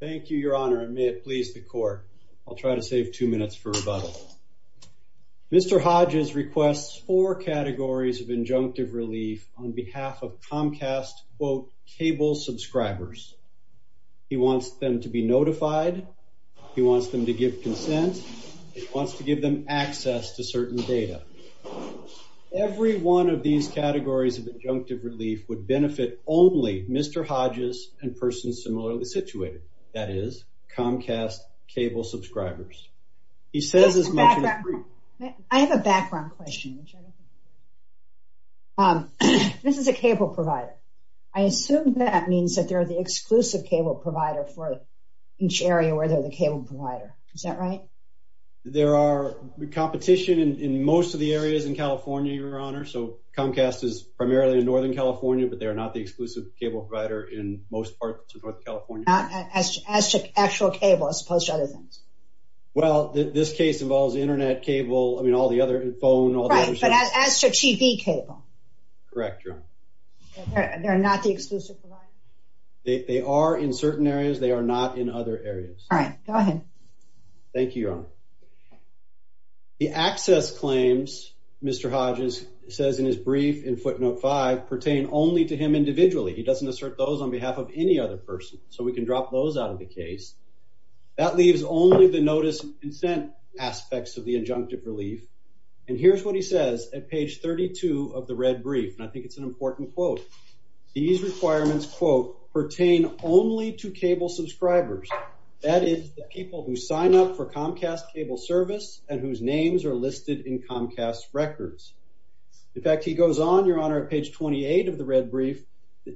Thank you, Your Honor, and may it please the court. I'll try to save two minutes for rebuttal. Mr. Hodges requests four categories of injunctive relief on behalf of Comcast, quote, cable subscribers. He wants them to be notified. He wants them to give consent. He wants to give them access to certain data. Every one of these categories of injunctive relief would benefit only Mr. Hodges and persons similarly situated, that is, Comcast cable subscribers. I have a background question. This is a cable provider. I assume that means that they're the exclusive cable provider for each area where they're the cable provider. Is that right? There are competition in most of the areas in California, Your Honor, so Comcast is primarily in Northern California, but they are not the exclusive cable provider in most parts of North California. As to actual cable as opposed to other things? Well, this case involves internet cable, I mean, all the other phone. Right, but as to TV cable? Correct, Your Honor. They're not the exclusive provider? They are in certain areas. They are not in other areas. All right, go ahead. Thank you, Your Honor. The access claims, Mr. Hodges says in his brief in footnote 5, pertain only to him individually. He doesn't assert those on behalf of any other person, so we can drop those out of the case. That leaves only the notice of consent aspects of the injunctive relief, and here's what he says at page 32 of the red brief, and I think it's an important quote. These requirements, quote, pertain only to cable subscribers. That is, the people who sign up for Comcast cable service and whose names are listed in Comcast records. In fact, he goes on, Your Honor, at page 28 of the red brief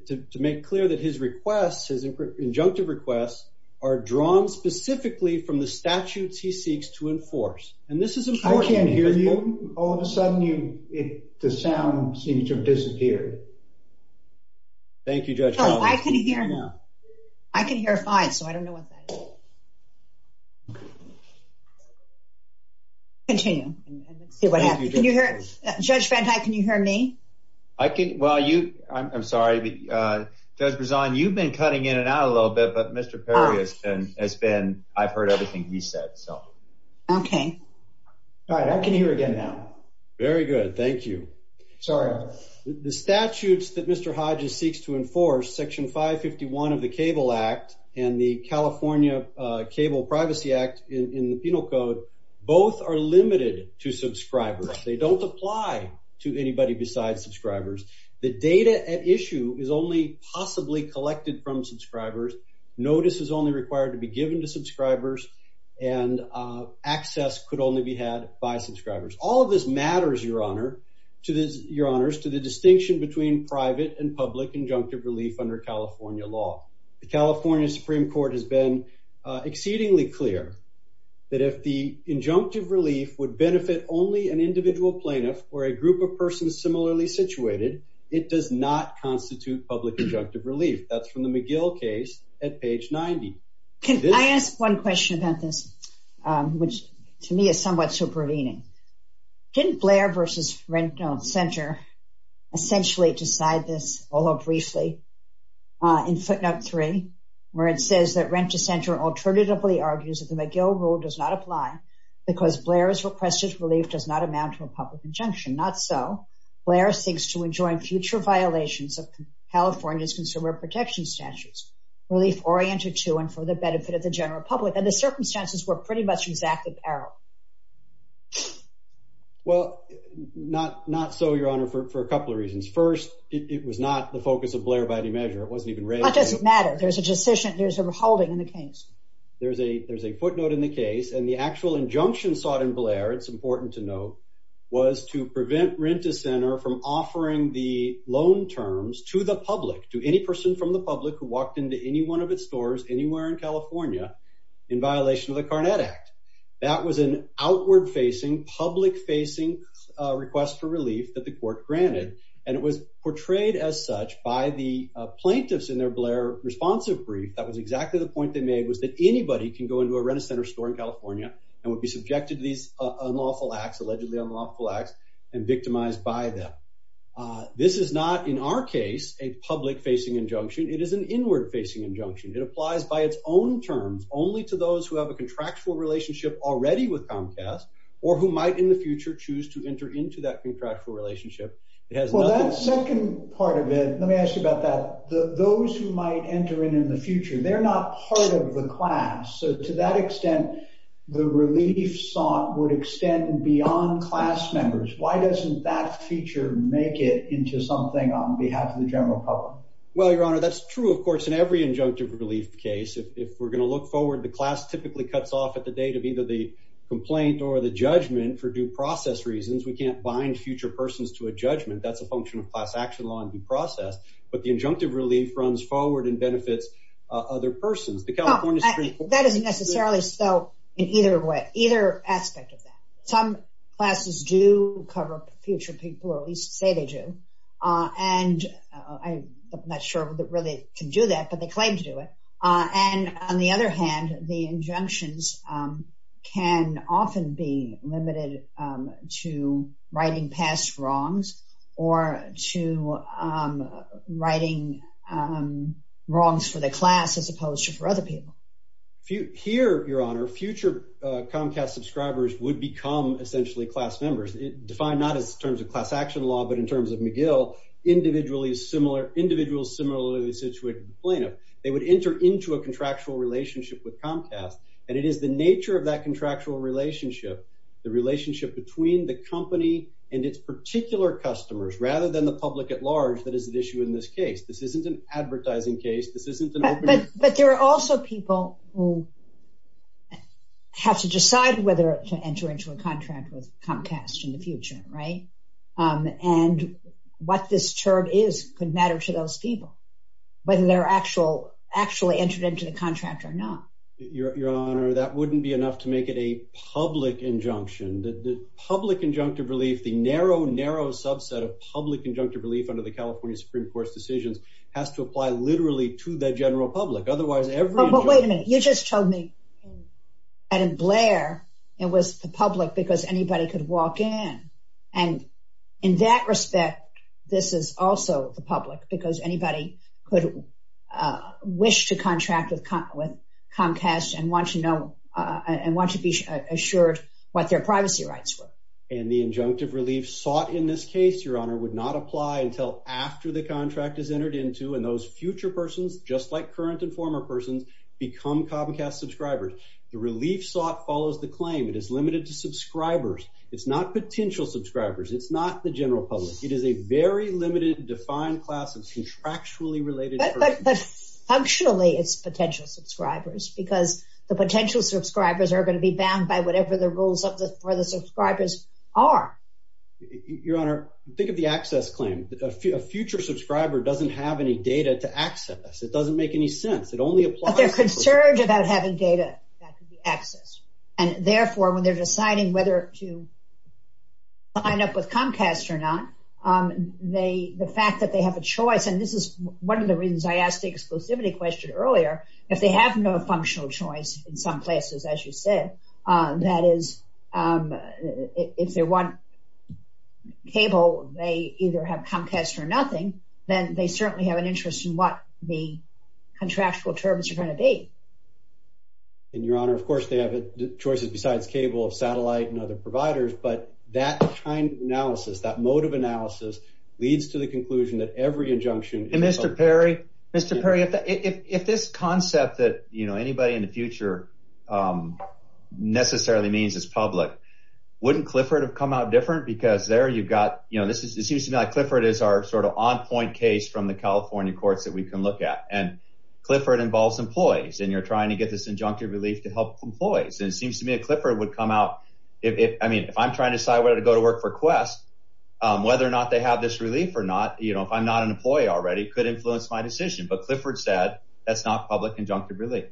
to make clear that his requests, his injunctive requests, are drawn specifically from the statutes he seeks to enforce, and this is important. I can't hear you. All of a sudden, the sound seems to have disappeared. Thank you, Judge. I can hear fine, so I don't know what that is. Continue and see what happens. Can you hear? Judge Van Dyke, can you hear me? I can. Well, you, I'm sorry. Judge Berzon, you've been cutting in and out a little bit, but Mr. Perry has been, I've heard everything he said, so. Okay. All right, I can hear again now. Very good. Thank you. Sorry. The statutes that Mr. Hodges seeks to enforce, Section 551 of the Cable Act and the California Cable Privacy Act in the Penal Code, both are limited to subscribers. They don't apply to anybody besides subscribers. The data at issue is only possibly collected from subscribers. Notice is only required to be given to subscribers and access could only be had by subscribers. All of this matters, Your Honor, to the distinction between private and public injunctive relief under California law. The California Supreme Court has been exceedingly clear that if the injunctive relief would benefit only an individual plaintiff or a group of persons similarly situated, it does not constitute public injunctive relief. That's from the McGill case at page 90. Can I ask one question about this, which to me is somewhat supervening. Didn't Blair versus Rent-to-Center essentially decide this, although briefly, in footnote three, where it says that Rent-to-Center alternatively argues that the McGill rule does not apply because Blair's requested relief does not amount to a public injunction. Not so. Blair seeks to enjoin future violations of California's consumer protection statutes, relief oriented to and for the benefit of the general public, and the circumstances were pretty much exact apparel. Well, not so, Your Honor, for a couple of reasons. First, it was not the focus of Blair by any measure. It wasn't even raised. What does it matter? There's a decision, there's a holding in the case. There's a footnote in the case, and the actual injunction sought in to prevent Rent-to-Center from offering the loan terms to the public, to any person from the public who walked into any one of its stores anywhere in California in violation of the Carnet Act. That was an outward-facing, public-facing request for relief that the court granted, and it was portrayed as such by the plaintiffs in their Blair responsive brief. That was exactly the point they made, was that anybody can go into a Rent-to-Center store in California and would be victimized by them. This is not, in our case, a public-facing injunction. It is an inward-facing injunction. It applies by its own terms only to those who have a contractual relationship already with Comcast, or who might in the future choose to enter into that contractual relationship. It has nothing- Well, that second part of it, let me ask you about that. Those who might enter in in the future, they're not part of the class. So to that extent, the relief sought would extend beyond class members. Why doesn't that feature make it into something on behalf of the general public? Well, Your Honor, that's true, of course, in every injunctive relief case. If we're going to look forward, the class typically cuts off at the date of either the complaint or the judgment for due process reasons. We can't bind future persons to a judgment. That's a function of class action law and due process, but the injunctive relief runs forward and benefits other persons. That isn't necessarily so in either way, either aspect of that. Some classes do cover future people, or at least say they do. And I'm not sure that really can do that, but they claim to do it. And on the other hand, the injunctions can often be limited to writing past wrongs or to writing wrongs for the class as opposed to for other people. Here, Your Honor, future Comcast subscribers would become essentially class members. Defined not as terms of class action law, but in terms of McGill, individuals similarly situated to the plaintiff, they would enter into a contractual relationship with Comcast. And it is the nature of that contractual relationship, the relationship between the company and its particular customers rather than the public at large, that is an issue in this case. This isn't an advertising case. This isn't an open... But there are also people who have to decide whether to enter into a contract with Comcast in the future, right? And what this term is could matter to those people, whether they're actually entered into the contract or not. Your Honor, that wouldn't be enough to make it a public injunction. The public injunctive relief, the narrow, narrow subset of public injunctive relief under the California Supreme Court's decisions has to apply literally to the general public. Otherwise, every... But wait a minute. You just told me, Adam Blair, it was the public because anybody could walk in. And in that respect, this is also the public because anybody could wish to contract with Comcast and want to know and want to be assured what their privacy rights were. And the injunctive relief sought in this case, Your Honor, would not apply until after the contract is entered into and those future persons, just like current and former persons, become Comcast subscribers. The relief sought follows the claim. It is limited to subscribers. It's not potential subscribers. It's not the general public. It is a very limited, defined class of contractually related... But functionally, it's potential subscribers because the potential subscribers are. Your Honor, think of the access claim. A future subscriber doesn't have any data to access. It doesn't make any sense. It only applies... But they're concerned about having data that could be accessed. And therefore, when they're deciding whether to sign up with Comcast or not, the fact that they have a choice... And this is one of the reasons I asked the exclusivity question earlier. If they have no functional choice in some places, as you said, that is, if they want cable, they either have Comcast or nothing, then they certainly have an interest in what the contractual terms are going to be. And Your Honor, of course, they have choices besides cable, satellite, and other providers. But that kind of analysis, that mode of analysis leads to the conclusion that every injunction... And Mr. Perry, Mr. Perry, if this concept that anybody in the future necessarily means is public, wouldn't Clifford have come out different? Because there, you've got... It seems to me like Clifford is our sort of on-point case from the California courts that we can look at. And Clifford involves employees, and you're trying to get this injunctive relief to help employees. And it seems to me that Clifford would come out... If I'm trying to decide whether to go to work for Quest, whether or not they have this relief or not, if I'm not an employee already, could influence my decision. But Clifford said that's not public injunctive relief.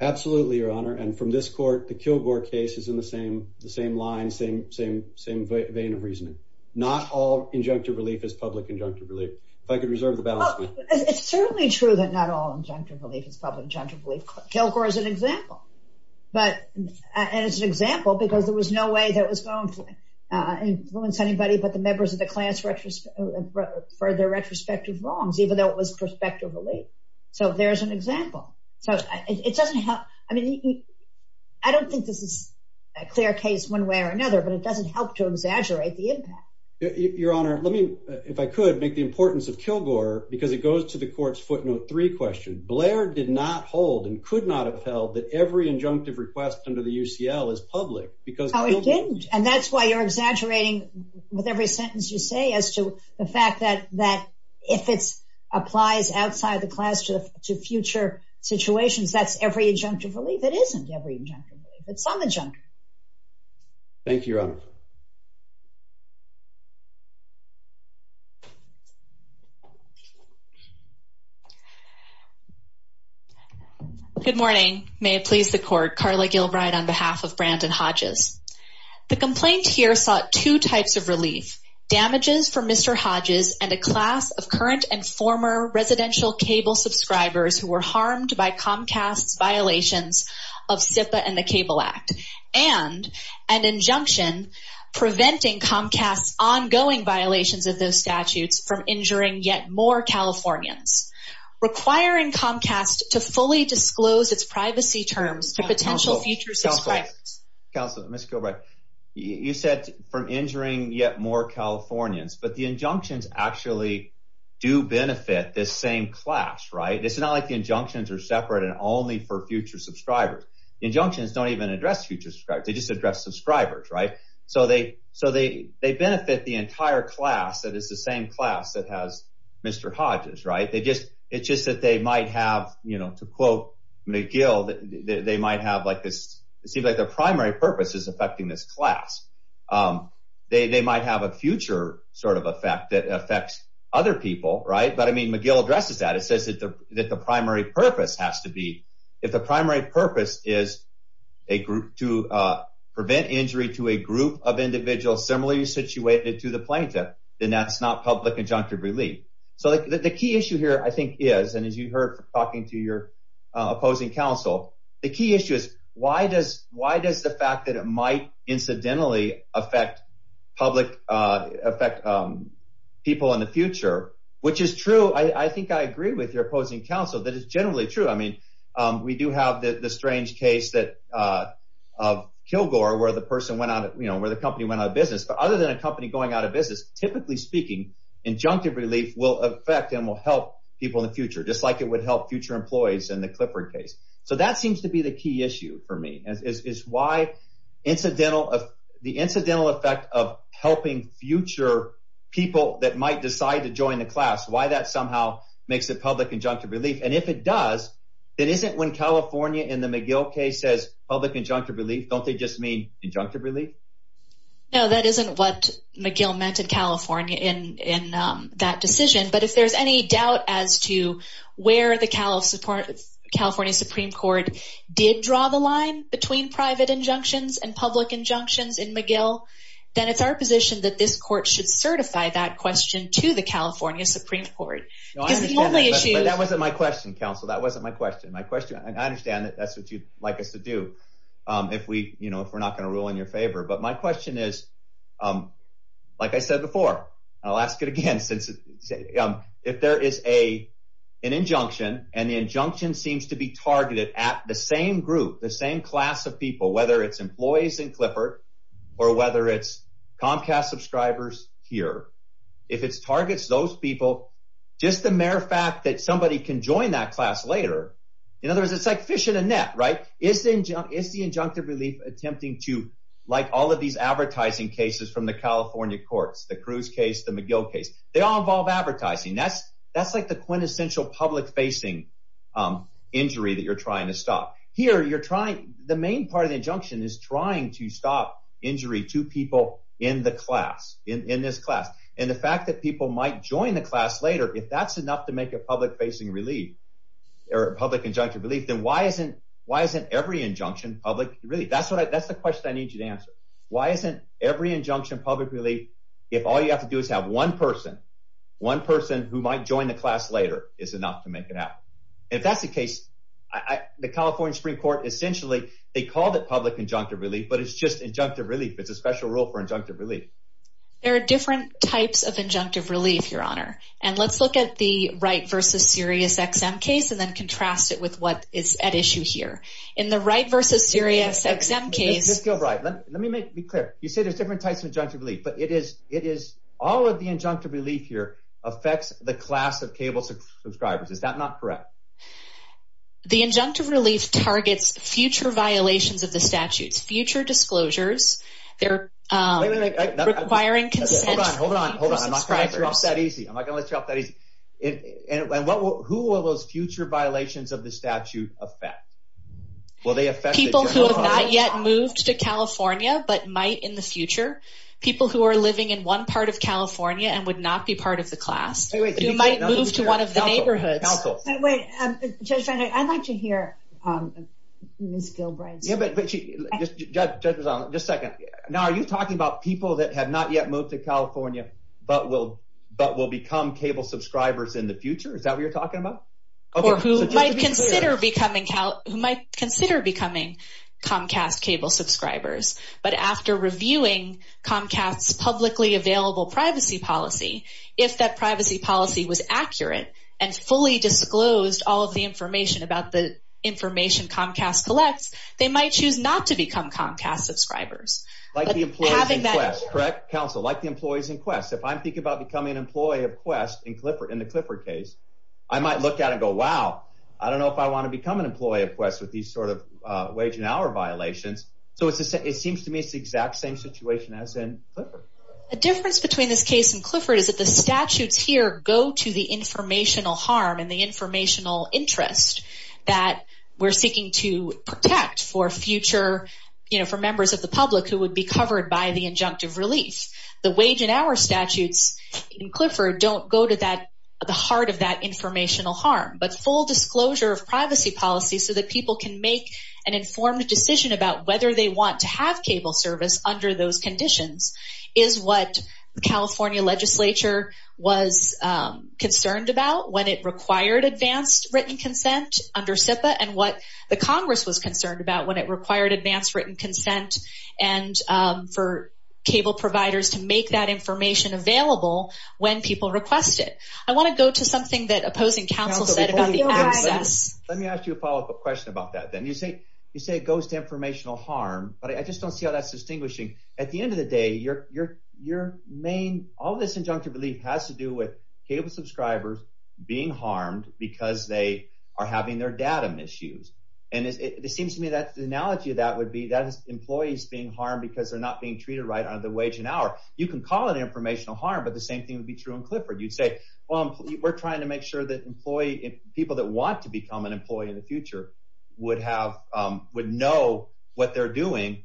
Absolutely, Your Honor. And from this court, the Kilgore case is in the same line, same vein of reasoning. Not all injunctive relief is public injunctive relief. If I could reserve the balance. It's certainly true that not all injunctive relief is public injunctive relief. Kilgore is an example. And it's an example because there was no way that was going to influence anybody but the members of the class for their retrospective wrongs, even though it was prospective relief. So there's an example. So it doesn't help. I mean, I don't think this is a clear case one way or another, but it doesn't help to exaggerate the impact. Your Honor, let me, if I could, make the importance of Kilgore because it goes to the court's footnote three question. Blair did not hold and could not have held that every injunctive request under the UCL is public because... Oh, it didn't. And that's why you're exaggerating with every sentence you say as to the fact that if it applies outside the class to future situations, that's every injunctive relief. It isn't every injunctive relief. It's some injunctive. Thank you, Your Honor. Good morning. May it please the court. Carla Gilbride on behalf of Brandon Hodges. The complaint here sought two types of relief damages for Mr. Hodges and a class of current and former residential cable subscribers who were harmed by Comcast's violations of SIPA and the Cable Act and an injunction preventing Comcast's ongoing violations of those statutes from injuring yet more Californians, requiring Comcast to fully disclose its privacy terms to potential future subscribers. Counselor, Ms. Gilbride, you said from injuring yet more Californians, but the injunctions actually do benefit this same class, right? It's not like the injunctions are separate and only for future subscribers. The injunctions don't even address future subscribers. They just address subscribers, right? So they benefit the entire class that is the same class that has Mr. Hodges, right? It's just that they might have, to quote McGill, it seems like their primary purpose is affecting this class. They might have a future sort of effect that affects other people, right? But I mean, McGill addresses that. It says that the primary purpose has to be, if the primary purpose is to prevent injury to a group of individuals similarly situated to the plaintiff, then that's not public injunctive relief. So the key issue here, I think is, and as you heard from talking to your opposing counsel, the key issue is why does the fact that it might incidentally affect people in the future, which is true, I think I agree with your opposing counsel that it's generally true. I mean, we do have the strange case of Kilgore where the person went out, where the company went out of business. But other than a company going out of business, typically speaking, injunctive relief will affect and will help people in the future, just like it would help future employees in the Clifford case. So that seems to be the key issue for me, is why the incidental effect of helping future people that might decide to join the class, why that somehow makes it public injunctive relief. And if it does, it isn't when California in the McGill case says public injunctive relief, don't they just mean injunctive relief? No, that isn't what McGill meant in California in that decision. But if there's any doubt as to where the California Supreme Court did draw the line between private injunctions and public injunctions in McGill, then it's our position that this court should certify that question to the California Supreme Court. That wasn't my question, counsel. That wasn't my question. My question, and I understand that that's what you'd like us to do. If we, you know, we're not going to rule in your favor, but my question is, like I said before, I'll ask it again, since if there is a, an injunction and the injunction seems to be targeted at the same group, the same class of people, whether it's employees in Clifford or whether it's Comcast subscribers here, if it's targets, those people, just the mere fact that somebody can join that class later. In other words, it's like fishing a net, right? Is the injunctive relief attempting to like all of these advertising cases from the California courts, the Cruz case, the McGill case, they all involve advertising. That's like the quintessential public facing injury that you're trying to stop here. You're trying, the main part of the injunction is trying to stop injury to people in the class, in this class. And the fact that people might join the class later, if that's enough to make a public facing relief or public relief, then why isn't, why isn't every injunction public? Really? That's what I, that's the question I need you to answer. Why isn't every injunction public relief? If all you have to do is have one person, one person who might join the class later is enough to make it happen. If that's the case, I, the California Supreme court, essentially they called it public injunctive relief, but it's just injunctive relief. It's a special rule for injunctive relief. There are different types of injunctive relief, your honor. And let's look at the Wright versus Sirius XM case and then contrast it with what is at issue here in the Wright versus Sirius XM case. Let me make it clear. You say there's different types of injunctive relief, but it is, it is all of the injunctive relief here affects the class of cable subscribers. Is that not correct? The injunctive relief targets future violations of the statutes, future disclosures. They're requiring consent. Hold on, hold on. I'm not going to let you off that easy. I'm not going to let you off that easy. And what will, who are those future violations of the statute affect? Will they affect people who have not yet moved to California, but might in the future, people who are living in one part of California and would not be part of the class. You might move to one of the neighborhoods. Wait, I'd like to hear Ms. Judges on just second. Now, are you talking about people that have not yet moved to California, but will, but will become cable subscribers in the future? Is that what you're talking about? Or who might consider becoming Cal who might consider becoming Comcast cable subscribers, but after reviewing Comcast's publicly available privacy policy, if that privacy policy was accurate and fully disclosed all of the information about the information Comcast collects, they might choose not to become Comcast subscribers. Like the employees in Quest, correct counsel, like the employees in Quest. If I'm thinking about becoming an employee of Quest in Clifford, in the Clifford case, I might look at it and go, wow, I don't know if I want to become an employee of Quest with these sort of a wage and hour violations. So it seems to me, it's the exact same situation as in Clifford. The difference between this case and Clifford is that the statutes here go to the informational harm and the informational interest that we're future, you know, for members of the public who would be covered by the injunctive relief. The wage and hour statutes in Clifford don't go to that, the heart of that informational harm, but full disclosure of privacy policy so that people can make an informed decision about whether they want to have cable service under those conditions is what the California legislature was concerned about when it required advanced written consent under SIPA and what the Congress was concerned about when it required advanced written consent and for cable providers to make that information available when people request it. I want to go to something that opposing counsel said about the access. Let me ask you a follow-up question about that then. You say it goes to informational harm, but I just don't see how that's distinguishing. At the end of the day, all this injunctive relief has to do with cable subscribers being harmed because they are having their data misused. And it seems to me that the analogy of that would be that employees being harmed because they're not being treated right under the wage and hour. You can call it informational harm, but the same thing would be true in Clifford. You'd say, well, we're trying to make sure that people that want to become an employee in the future would know what they're doing.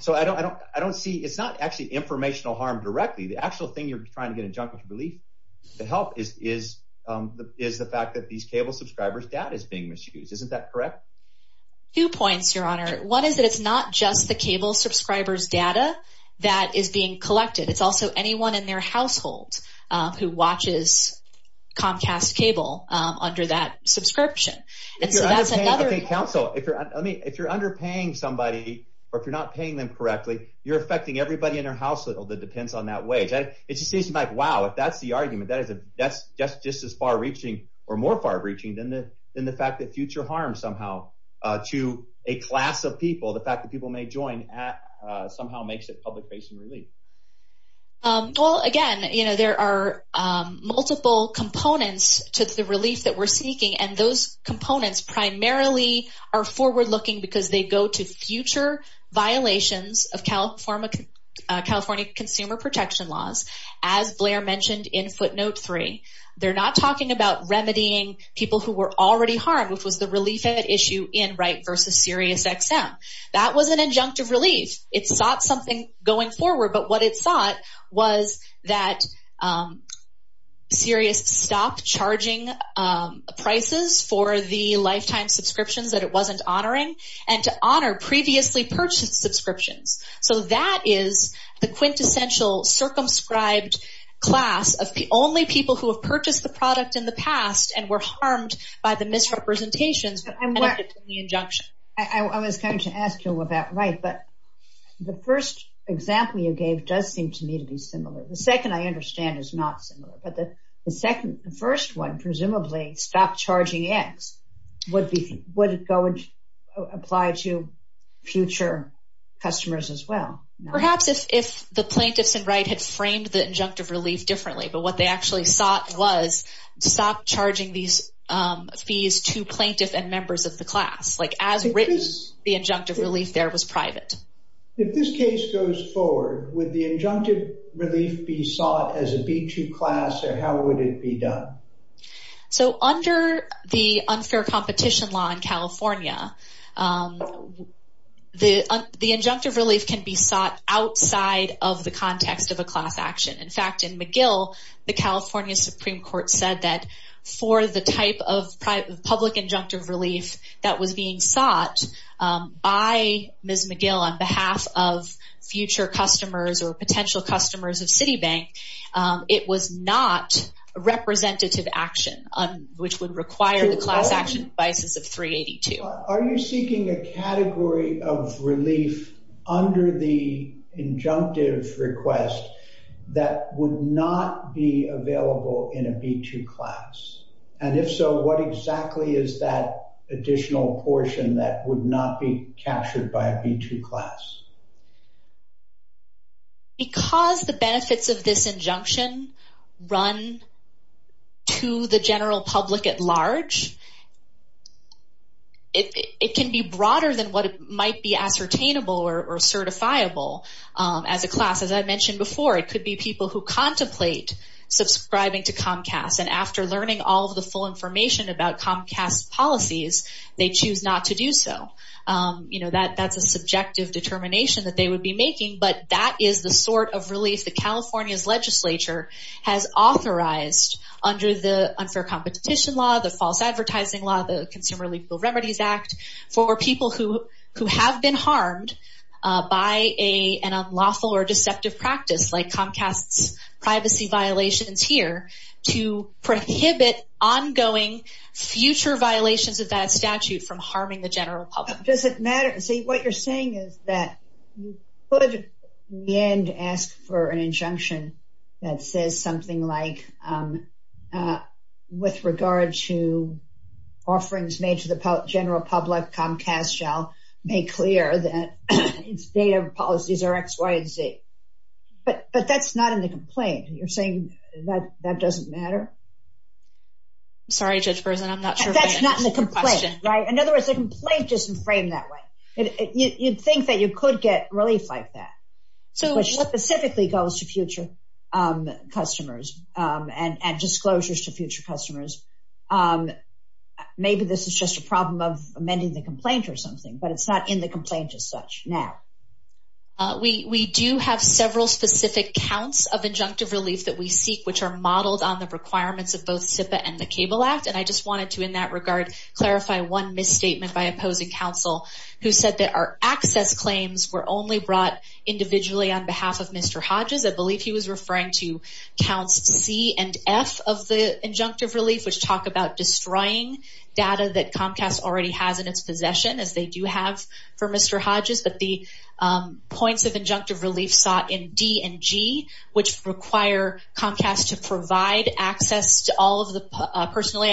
So I don't see, it's not actually informational harm directly. The actual thing you're trying to get injunctive relief to help is the fact that these cable subscribers' data is being misused. Isn't that correct? Two points, Your Honor. One is that it's not just the cable subscribers' data that is being collected. It's also anyone in their household who watches Comcast Cable under that subscription. Okay, counsel, if you're underpaying somebody or if you're not paying them correctly, you're affecting everybody in their household that depends on that wage. It just seems like, wow, if that's the argument, that's just as far-reaching than the fact that future harm somehow to a class of people, the fact that people may join, somehow makes it public-facing relief. Well, again, there are multiple components to the relief that we're seeking, and those components primarily are forward-looking because they go to future violations of California consumer protection laws, as Blair mentioned in footnote three. They're not talking about remedying people who were already harmed, which was the relief issue in Wright v. SiriusXM. That was an injunctive relief. It sought something going forward, but what it sought was that Sirius stop charging prices for the lifetime subscriptions that it wasn't honoring and to honor previously purchased subscriptions. So that is the quintessential circumscribed class of only people who have purchased the product in the past and were harmed by the misrepresentations and the injunction. I was going to ask you about Wright, but the first example you gave does seem to me to be similar. The second, I understand, is not similar, but the first one, presumably, stop charging X, would it apply to future customers as well? Perhaps if the plaintiffs in Wright had framed the injunctive relief differently, but what they actually sought was to stop charging these fees to plaintiff and members of the class, like as written, the injunctive relief there was private. If this case goes forward, would the injunctive relief be sought as a B2 class, or how would it be done? So under the unfair competition law in the United States, it was sought outside of the context of a class action. In fact, in McGill, the California Supreme Court said that for the type of public injunctive relief that was being sought by Ms. McGill on behalf of future customers or potential customers of Citibank, it was not a representative action, which would require the class action devices of 382. Are you seeking a injunctive request that would not be available in a B2 class? And if so, what exactly is that additional portion that would not be captured by a B2 class? Because the benefits of this injunction run to the general public at large, it can be broader than what might be ascertainable or certifiable as a class. As I mentioned before, it could be people who contemplate subscribing to Comcast, and after learning all of the full information about Comcast's policies, they choose not to do so. You know, that's a subjective determination that they would be making, but that is the sort of relief that California's legislature has authorized under the unfair competition law, the false advertising law, the Consumer Legal Remedies Act, for people who have been harmed by an unlawful or deceptive practice, like Comcast's privacy violations here, to prohibit ongoing future violations of that statute from harming the general public. Does it matter? See, what you're saying is that you could, in the end, ask for an injunction that says something like, with regard to offerings made to the general public, Comcast shall make clear that its data policies are X, Y, and Z. But that's not in the complaint. You're saying that that doesn't matter? Sorry, Judge Berzin, I'm not sure if that's your question. That's not in the complaint, right? In other words, the complaint isn't framed that way. You'd think that you could get relief like that, which specifically goes to future customers and disclosures to future customers. Maybe this is just a problem of amending the complaint or something, but it's not in the complaint as such now. We do have several specific counts of injunctive relief that we seek, which are modeled on the requirements of both CIPA and the Cable Act, and I just wanted to, in that regard, clarify one misstatement by opposing counsel who said that our access claims were only brought individually on behalf of Mr. Hodges. I believe he was referring to counts C and F of the injunctive relief, which talk about destroying data that Comcast already has in its possession, as they do have for Mr. Hodges. But the points of injunctive relief sought in D and G, which require Comcast to provide access to all of the personally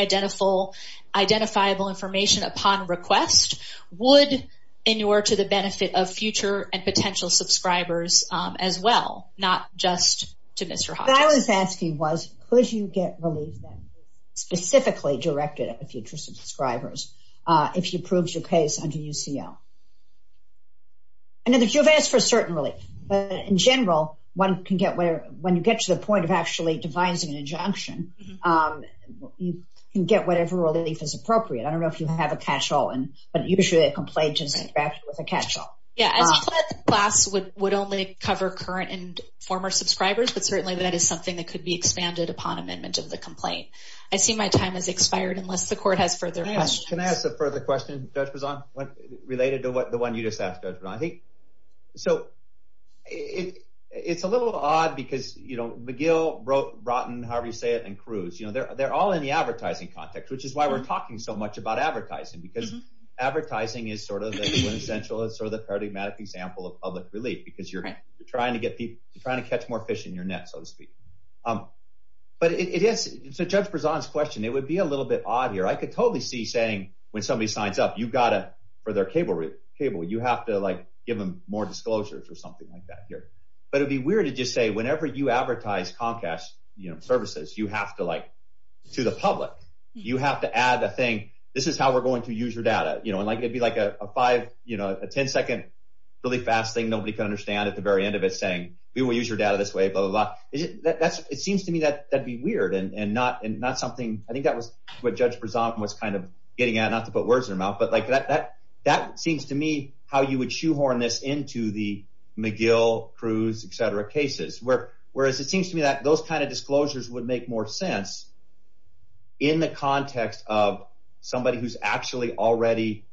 identifiable information upon request, would inure to the benefit of future and potential subscribers as well, not just to Mr. Hodges. What I was asking was, could you get relief specifically directed at future subscribers, if you proved your case under UCL? I know that you've asked for certain relief, but in general, one can get whatever, when you get to the point of actually devising an injunction, you can get whatever relief is appropriate. I don't know if you have a catch-all, but usually a complaint is drafted with a catch-all. Yeah, as you said, the class would only cover current and former subscribers, but certainly that is something that could be expanded upon amendment of the complaint. I see my time has expired, unless the court has further questions. Can I ask a further question, Judge Brizant, related to what the one you just asked, Judge Brizant? It's a little odd, because McGill, Rotten, however you say it, and Cruz, they're all in the advertising context, which is why we're talking so much about advertising, because advertising is sort of the quintessential, it's sort of the paradigmatic example of public relief, because you're trying to catch more fish in your net, so to speak. Judge Brizant's question, it would be a little bit odd here. I could totally see saying, when somebody signs up, for their cable, you have to give them more disclosures or something like that here. But it would be weird to just say, whenever you advertise Comcast services, you have to, like, to the public, you have to add a thing, this is how we're going to use your data. It'd be like a five, a 10-second, really fast thing nobody could understand at the very end of it, saying, we will use your data this way, blah, blah, blah. It seems to me that that'd be weird and not something, I think that was what Judge Brizant was kind of getting at, not to put words in their mouth, but like, that seems to me how you would shoehorn this into the McGill, Cruz, et cetera, cases, whereas it seems to me that those kind of disclosures would make more sense in the context of somebody who's actually already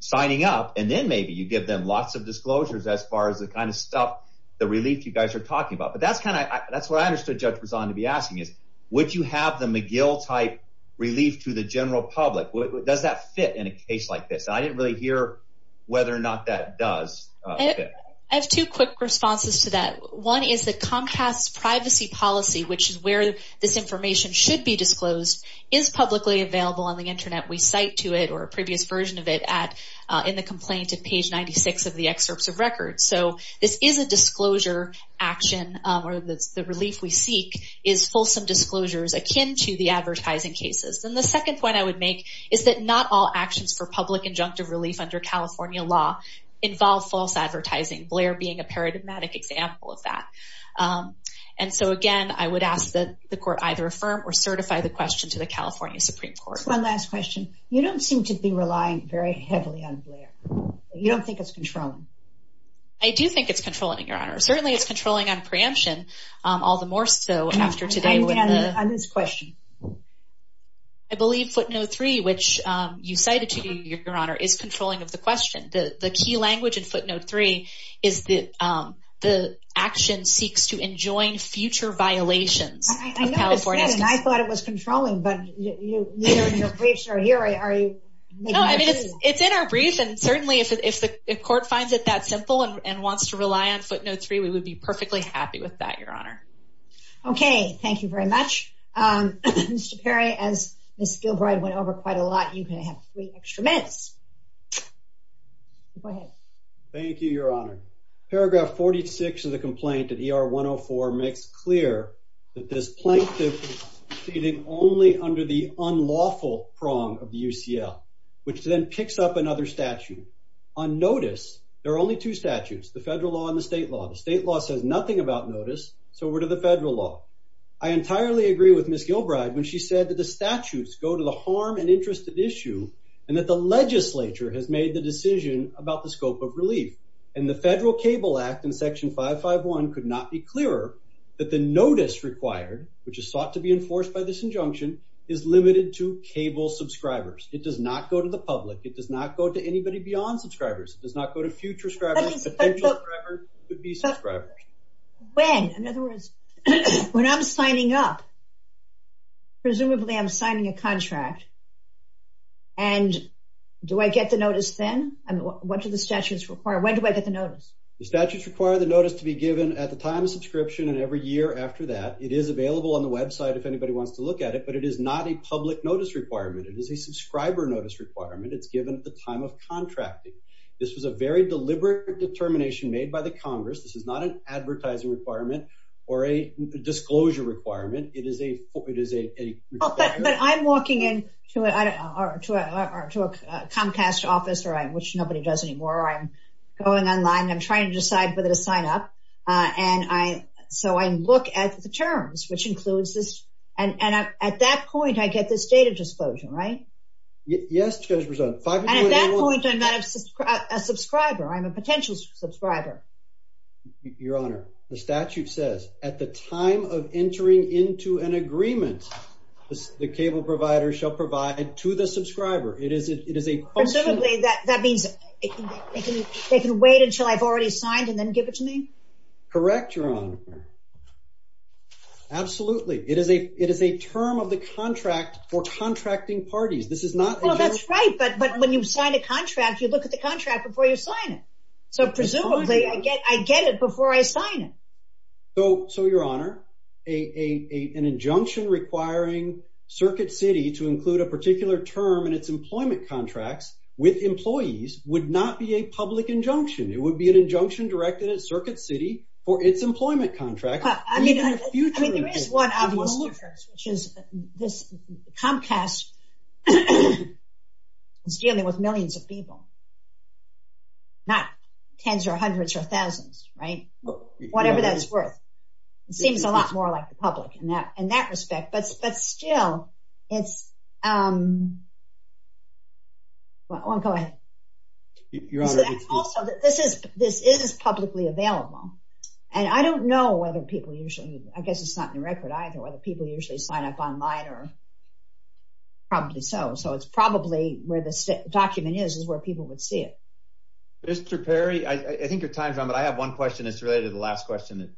signing up, and then maybe you give them lots of disclosures as far as the kind of stuff, the relief you guys are talking about. But that's kind of, that's what I understood Judge Brizant to be asking is, would you have the McGill-type to the general public? Does that fit in a case like this? I didn't really hear whether or not that does fit. I have two quick responses to that. One is that Comcast's privacy policy, which is where this information should be disclosed, is publicly available on the internet. We cite to it, or a previous version of it, in the complaint at page 96 of the excerpts of record. So this is a disclosure action, or the relief we seek is fulsome disclosures akin to the advertising cases. And the second point I would make is that not all actions for public injunctive relief under California law involve false advertising, Blair being a paradigmatic example of that. And so again, I would ask that the court either affirm or certify the question to the California Supreme Court. One last question. You don't seem to be relying very heavily on Blair. You don't think it's controlling? I do think it's controlling, Your Honor. Certainly, it's controlling on this question. I believe footnote 3, which you cited to you, Your Honor, is controlling of the question. The key language in footnote 3 is that the action seeks to enjoin future violations. I noticed that, and I thought it was controlling, but neither of your briefs are here. Are you... No, I mean, it's in our brief, and certainly if the court finds it that simple and wants to rely on footnote 3, we would be perfectly happy with that, Your Honor. Okay, thank you very much. Mr. Perry, as Ms. Gilbride went over quite a lot, you can have three extra minutes. Go ahead. Thank you, Your Honor. Paragraph 46 of the complaint at ER 104 makes clear that this plaintiff is proceeding only under the unlawful prong of the UCL, which then picks up another statute. On notice, there are only two statutes, the federal law and the state law. The statutes go to the harm and interest at issue, and that the legislature has made the decision about the scope of relief, and the federal cable act in section 551 could not be clearer that the notice required, which is sought to be enforced by this injunction, is limited to cable subscribers. It does not go to the public. It does not go to anybody beyond subscribers. It does not go to future subscribers. When, in other words, when I'm signing up, presumably I'm signing a contract, and do I get the notice then? What do the statutes require? When do I get the notice? The statutes require the notice to be given at the time of subscription and every year after that. It is available on the website if anybody wants to look at it, but it is not a public notice requirement. It is a subscriber notice requirement. It's given at the time of contracting. This was a very deliberate determination made by the Congress. This is not an advertising requirement or a disclosure requirement. It is a... But I'm walking in to a Comcast office, which nobody does anymore. I'm going online. I'm trying to decide whether to sign up, and so I look at the terms, which includes this, and at that point, I get this data disclosure, right? Yes, Judge Brisson. And at that point, I'm not a subscriber. I'm a potential subscriber. Your Honor, the statute says at the time of entering into an agreement, the cable provider shall provide to the subscriber. It is a... Presumably, that means they can wait until I've already signed and then give it to me? Correct, Your Honor. Absolutely. It is a term of the contract for contracting parties. This is not... Well, that's right, but when you sign a contract, you look at the contract before you sign it. So presumably, I get it before I sign it. So, Your Honor, an injunction requiring Circuit City to include a particular term in its employment contracts with employees would not be a public injunction. It would be an injunction directed at Circuit City for its employment contract. I mean, there is one obvious difference, which is this Comcast is dealing with millions of people, not tens or hundreds or thousands, right? Whatever that's worth. It seems a lot more like the public in that respect, but still, it's... Well, go ahead. Your Honor, it's... Also, this is publicly available, and I don't know whether people usually... I guess it's not in the record either, whether people usually sign up online or probably so. So, it's probably where this document is, is where people would see it. Mr. Perry, I think your time is up, but I have one question that's related to the last question that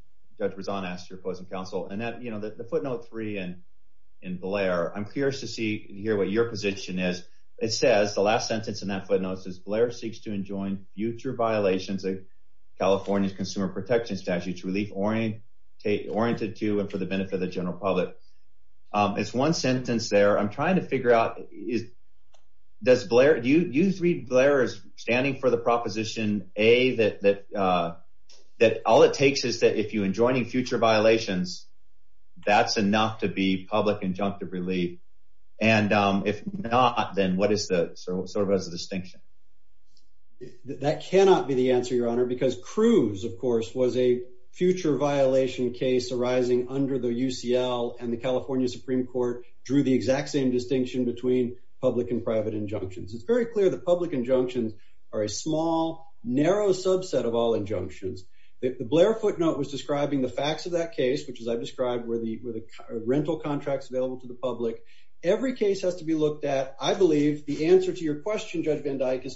Judge Rezaan asked your opposing counsel. And that, you know, the footnote three in Blair, I'm curious to see and hear what your position is. It says, the last sentence in that is, Blair seeks to enjoin future violations of California's consumer protection statutes, relief oriented to and for the benefit of the general public. It's one sentence there. I'm trying to figure out, is... Does Blair... Do you read Blair as standing for the proposition, A, that all it takes is that if you're enjoining future violations, that's enough to be public injunctive relief? And if not, then what is the... So, that cannot be the answer, Your Honor, because Cruz, of course, was a future violation case arising under the UCL and the California Supreme Court drew the exact same distinction between public and private injunctions. It's very clear the public injunctions are a small, narrow subset of all injunctions. The Blair footnote was describing the facts of that case, which as I've described, were the rental contracts available to the public. Every case has to be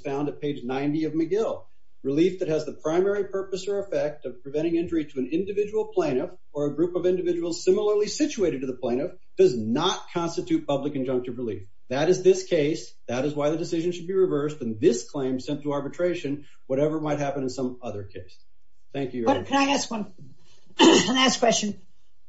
found at page 90 of McGill. Relief that has the primary purpose or effect of preventing injury to an individual plaintiff or a group of individuals similarly situated to the plaintiff does not constitute public injunctive relief. That is this case. That is why the decision should be reversed in this claim sent to arbitration, whatever might happen in some other case. Thank you, Your Honor. Can I ask one last question?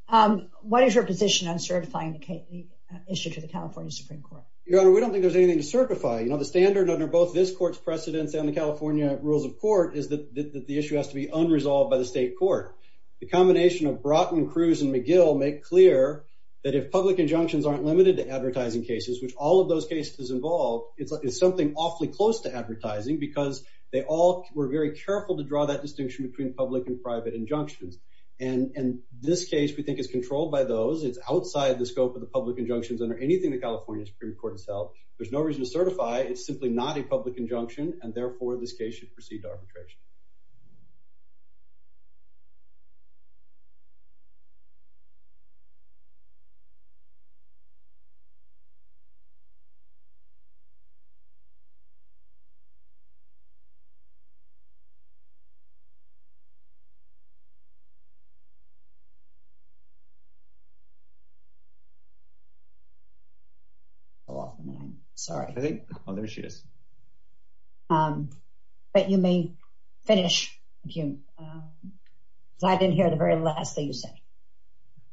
What is your position on certifying the issue to the California Supreme Court? Your Honor, we don't think there's anything to certify. The standard under both this court's precedents and the California rules of court is that the issue has to be unresolved by the state court. The combination of Broughton, Cruz, and McGill make clear that if public injunctions aren't limited to advertising cases, which all of those cases involve, it's something awfully close to advertising because they all were very careful to draw that distinction between public and private injunctions. And this case we think is controlled by those. It's outside the scope of the public injunctions under anything the California Supreme Court has held. There's no reason to certify. It's simply not a public injunction, and therefore, this case should proceed to arbitration. I think, oh, there she is. But you may finish. Thank you. I didn't hear the very last thing you said.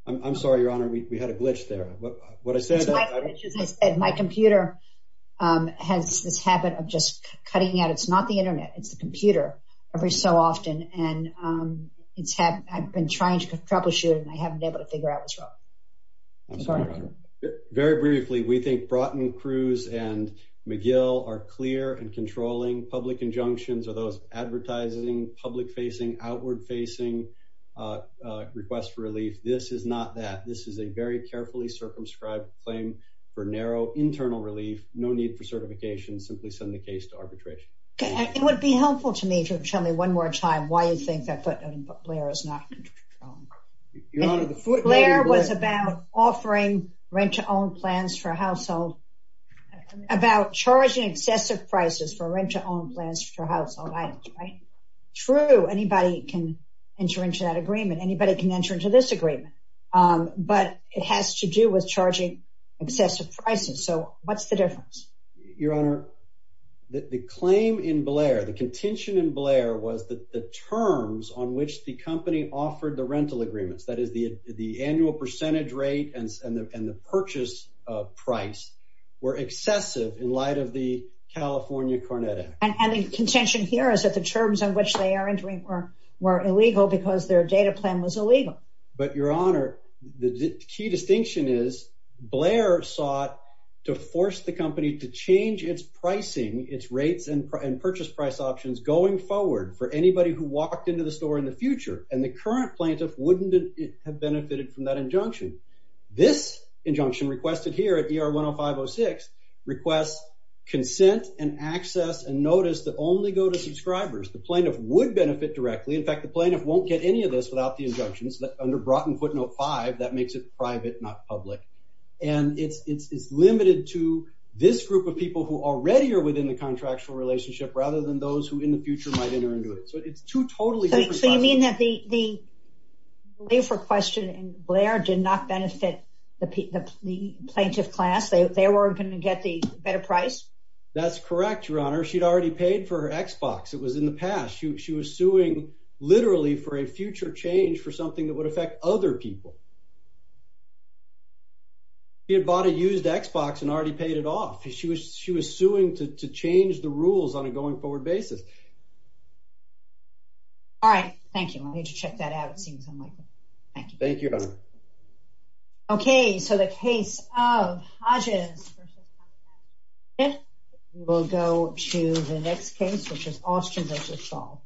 I'm sorry, Your Honor. We had a glitch there. What I said... My computer has this habit of just cutting out. It's not the internet. It's the computer every so often, and I've been trying to troubleshoot, and I haven't been able to and controlling public injunctions or those advertising, public-facing, outward-facing requests for relief. This is not that. This is a very carefully circumscribed claim for narrow internal relief. No need for certification. Simply send the case to arbitration. Okay. It would be helpful to me to tell me one more time why you think that footnote in Blair is not controlled. Your Honor, the footnote in Blair... Blair was about offering rent-to-own plans for a household, about charging excessive prices for rent-to-own plans for household items, right? True, anybody can enter into that agreement. Anybody can enter into this agreement, but it has to do with charging excessive prices. So what's the difference? Your Honor, the claim in Blair, the contention in Blair was that the terms on which the company offered the price were excessive in light of the California Cornette Act. And the contention here is that the terms on which they are entering were illegal because their data plan was illegal. But, Your Honor, the key distinction is Blair sought to force the company to change its pricing, its rates and purchase price options going forward for anybody who walked into the store in the future, and the current plaintiff wouldn't have benefited from that injunction. This injunction requested here at ER 10506 requests consent and access and notice that only go to subscribers. The plaintiff would benefit directly. In fact, the plaintiff won't get any of this without the injunctions that under Broughton Footnote 5, that makes it private, not public. And it's limited to this group of people who already are within the contractual relationship rather than those who in the future might enter into it. So it's two totally... The way for questioning Blair did not benefit the plaintiff class. They were going to get the better price. That's correct, Your Honor. She'd already paid for her Xbox. It was in the past. She was suing literally for a future change for something that would affect other people. He had bought a used Xbox and already paid it off. She was suing to change the rules on a forward basis. All right. Thank you. I need to check that out. It seems unlikely. Thank you. Thank you, Your Honor. Okay. So the case of Hodges versus will go to the next case, which is Austen versus Saul.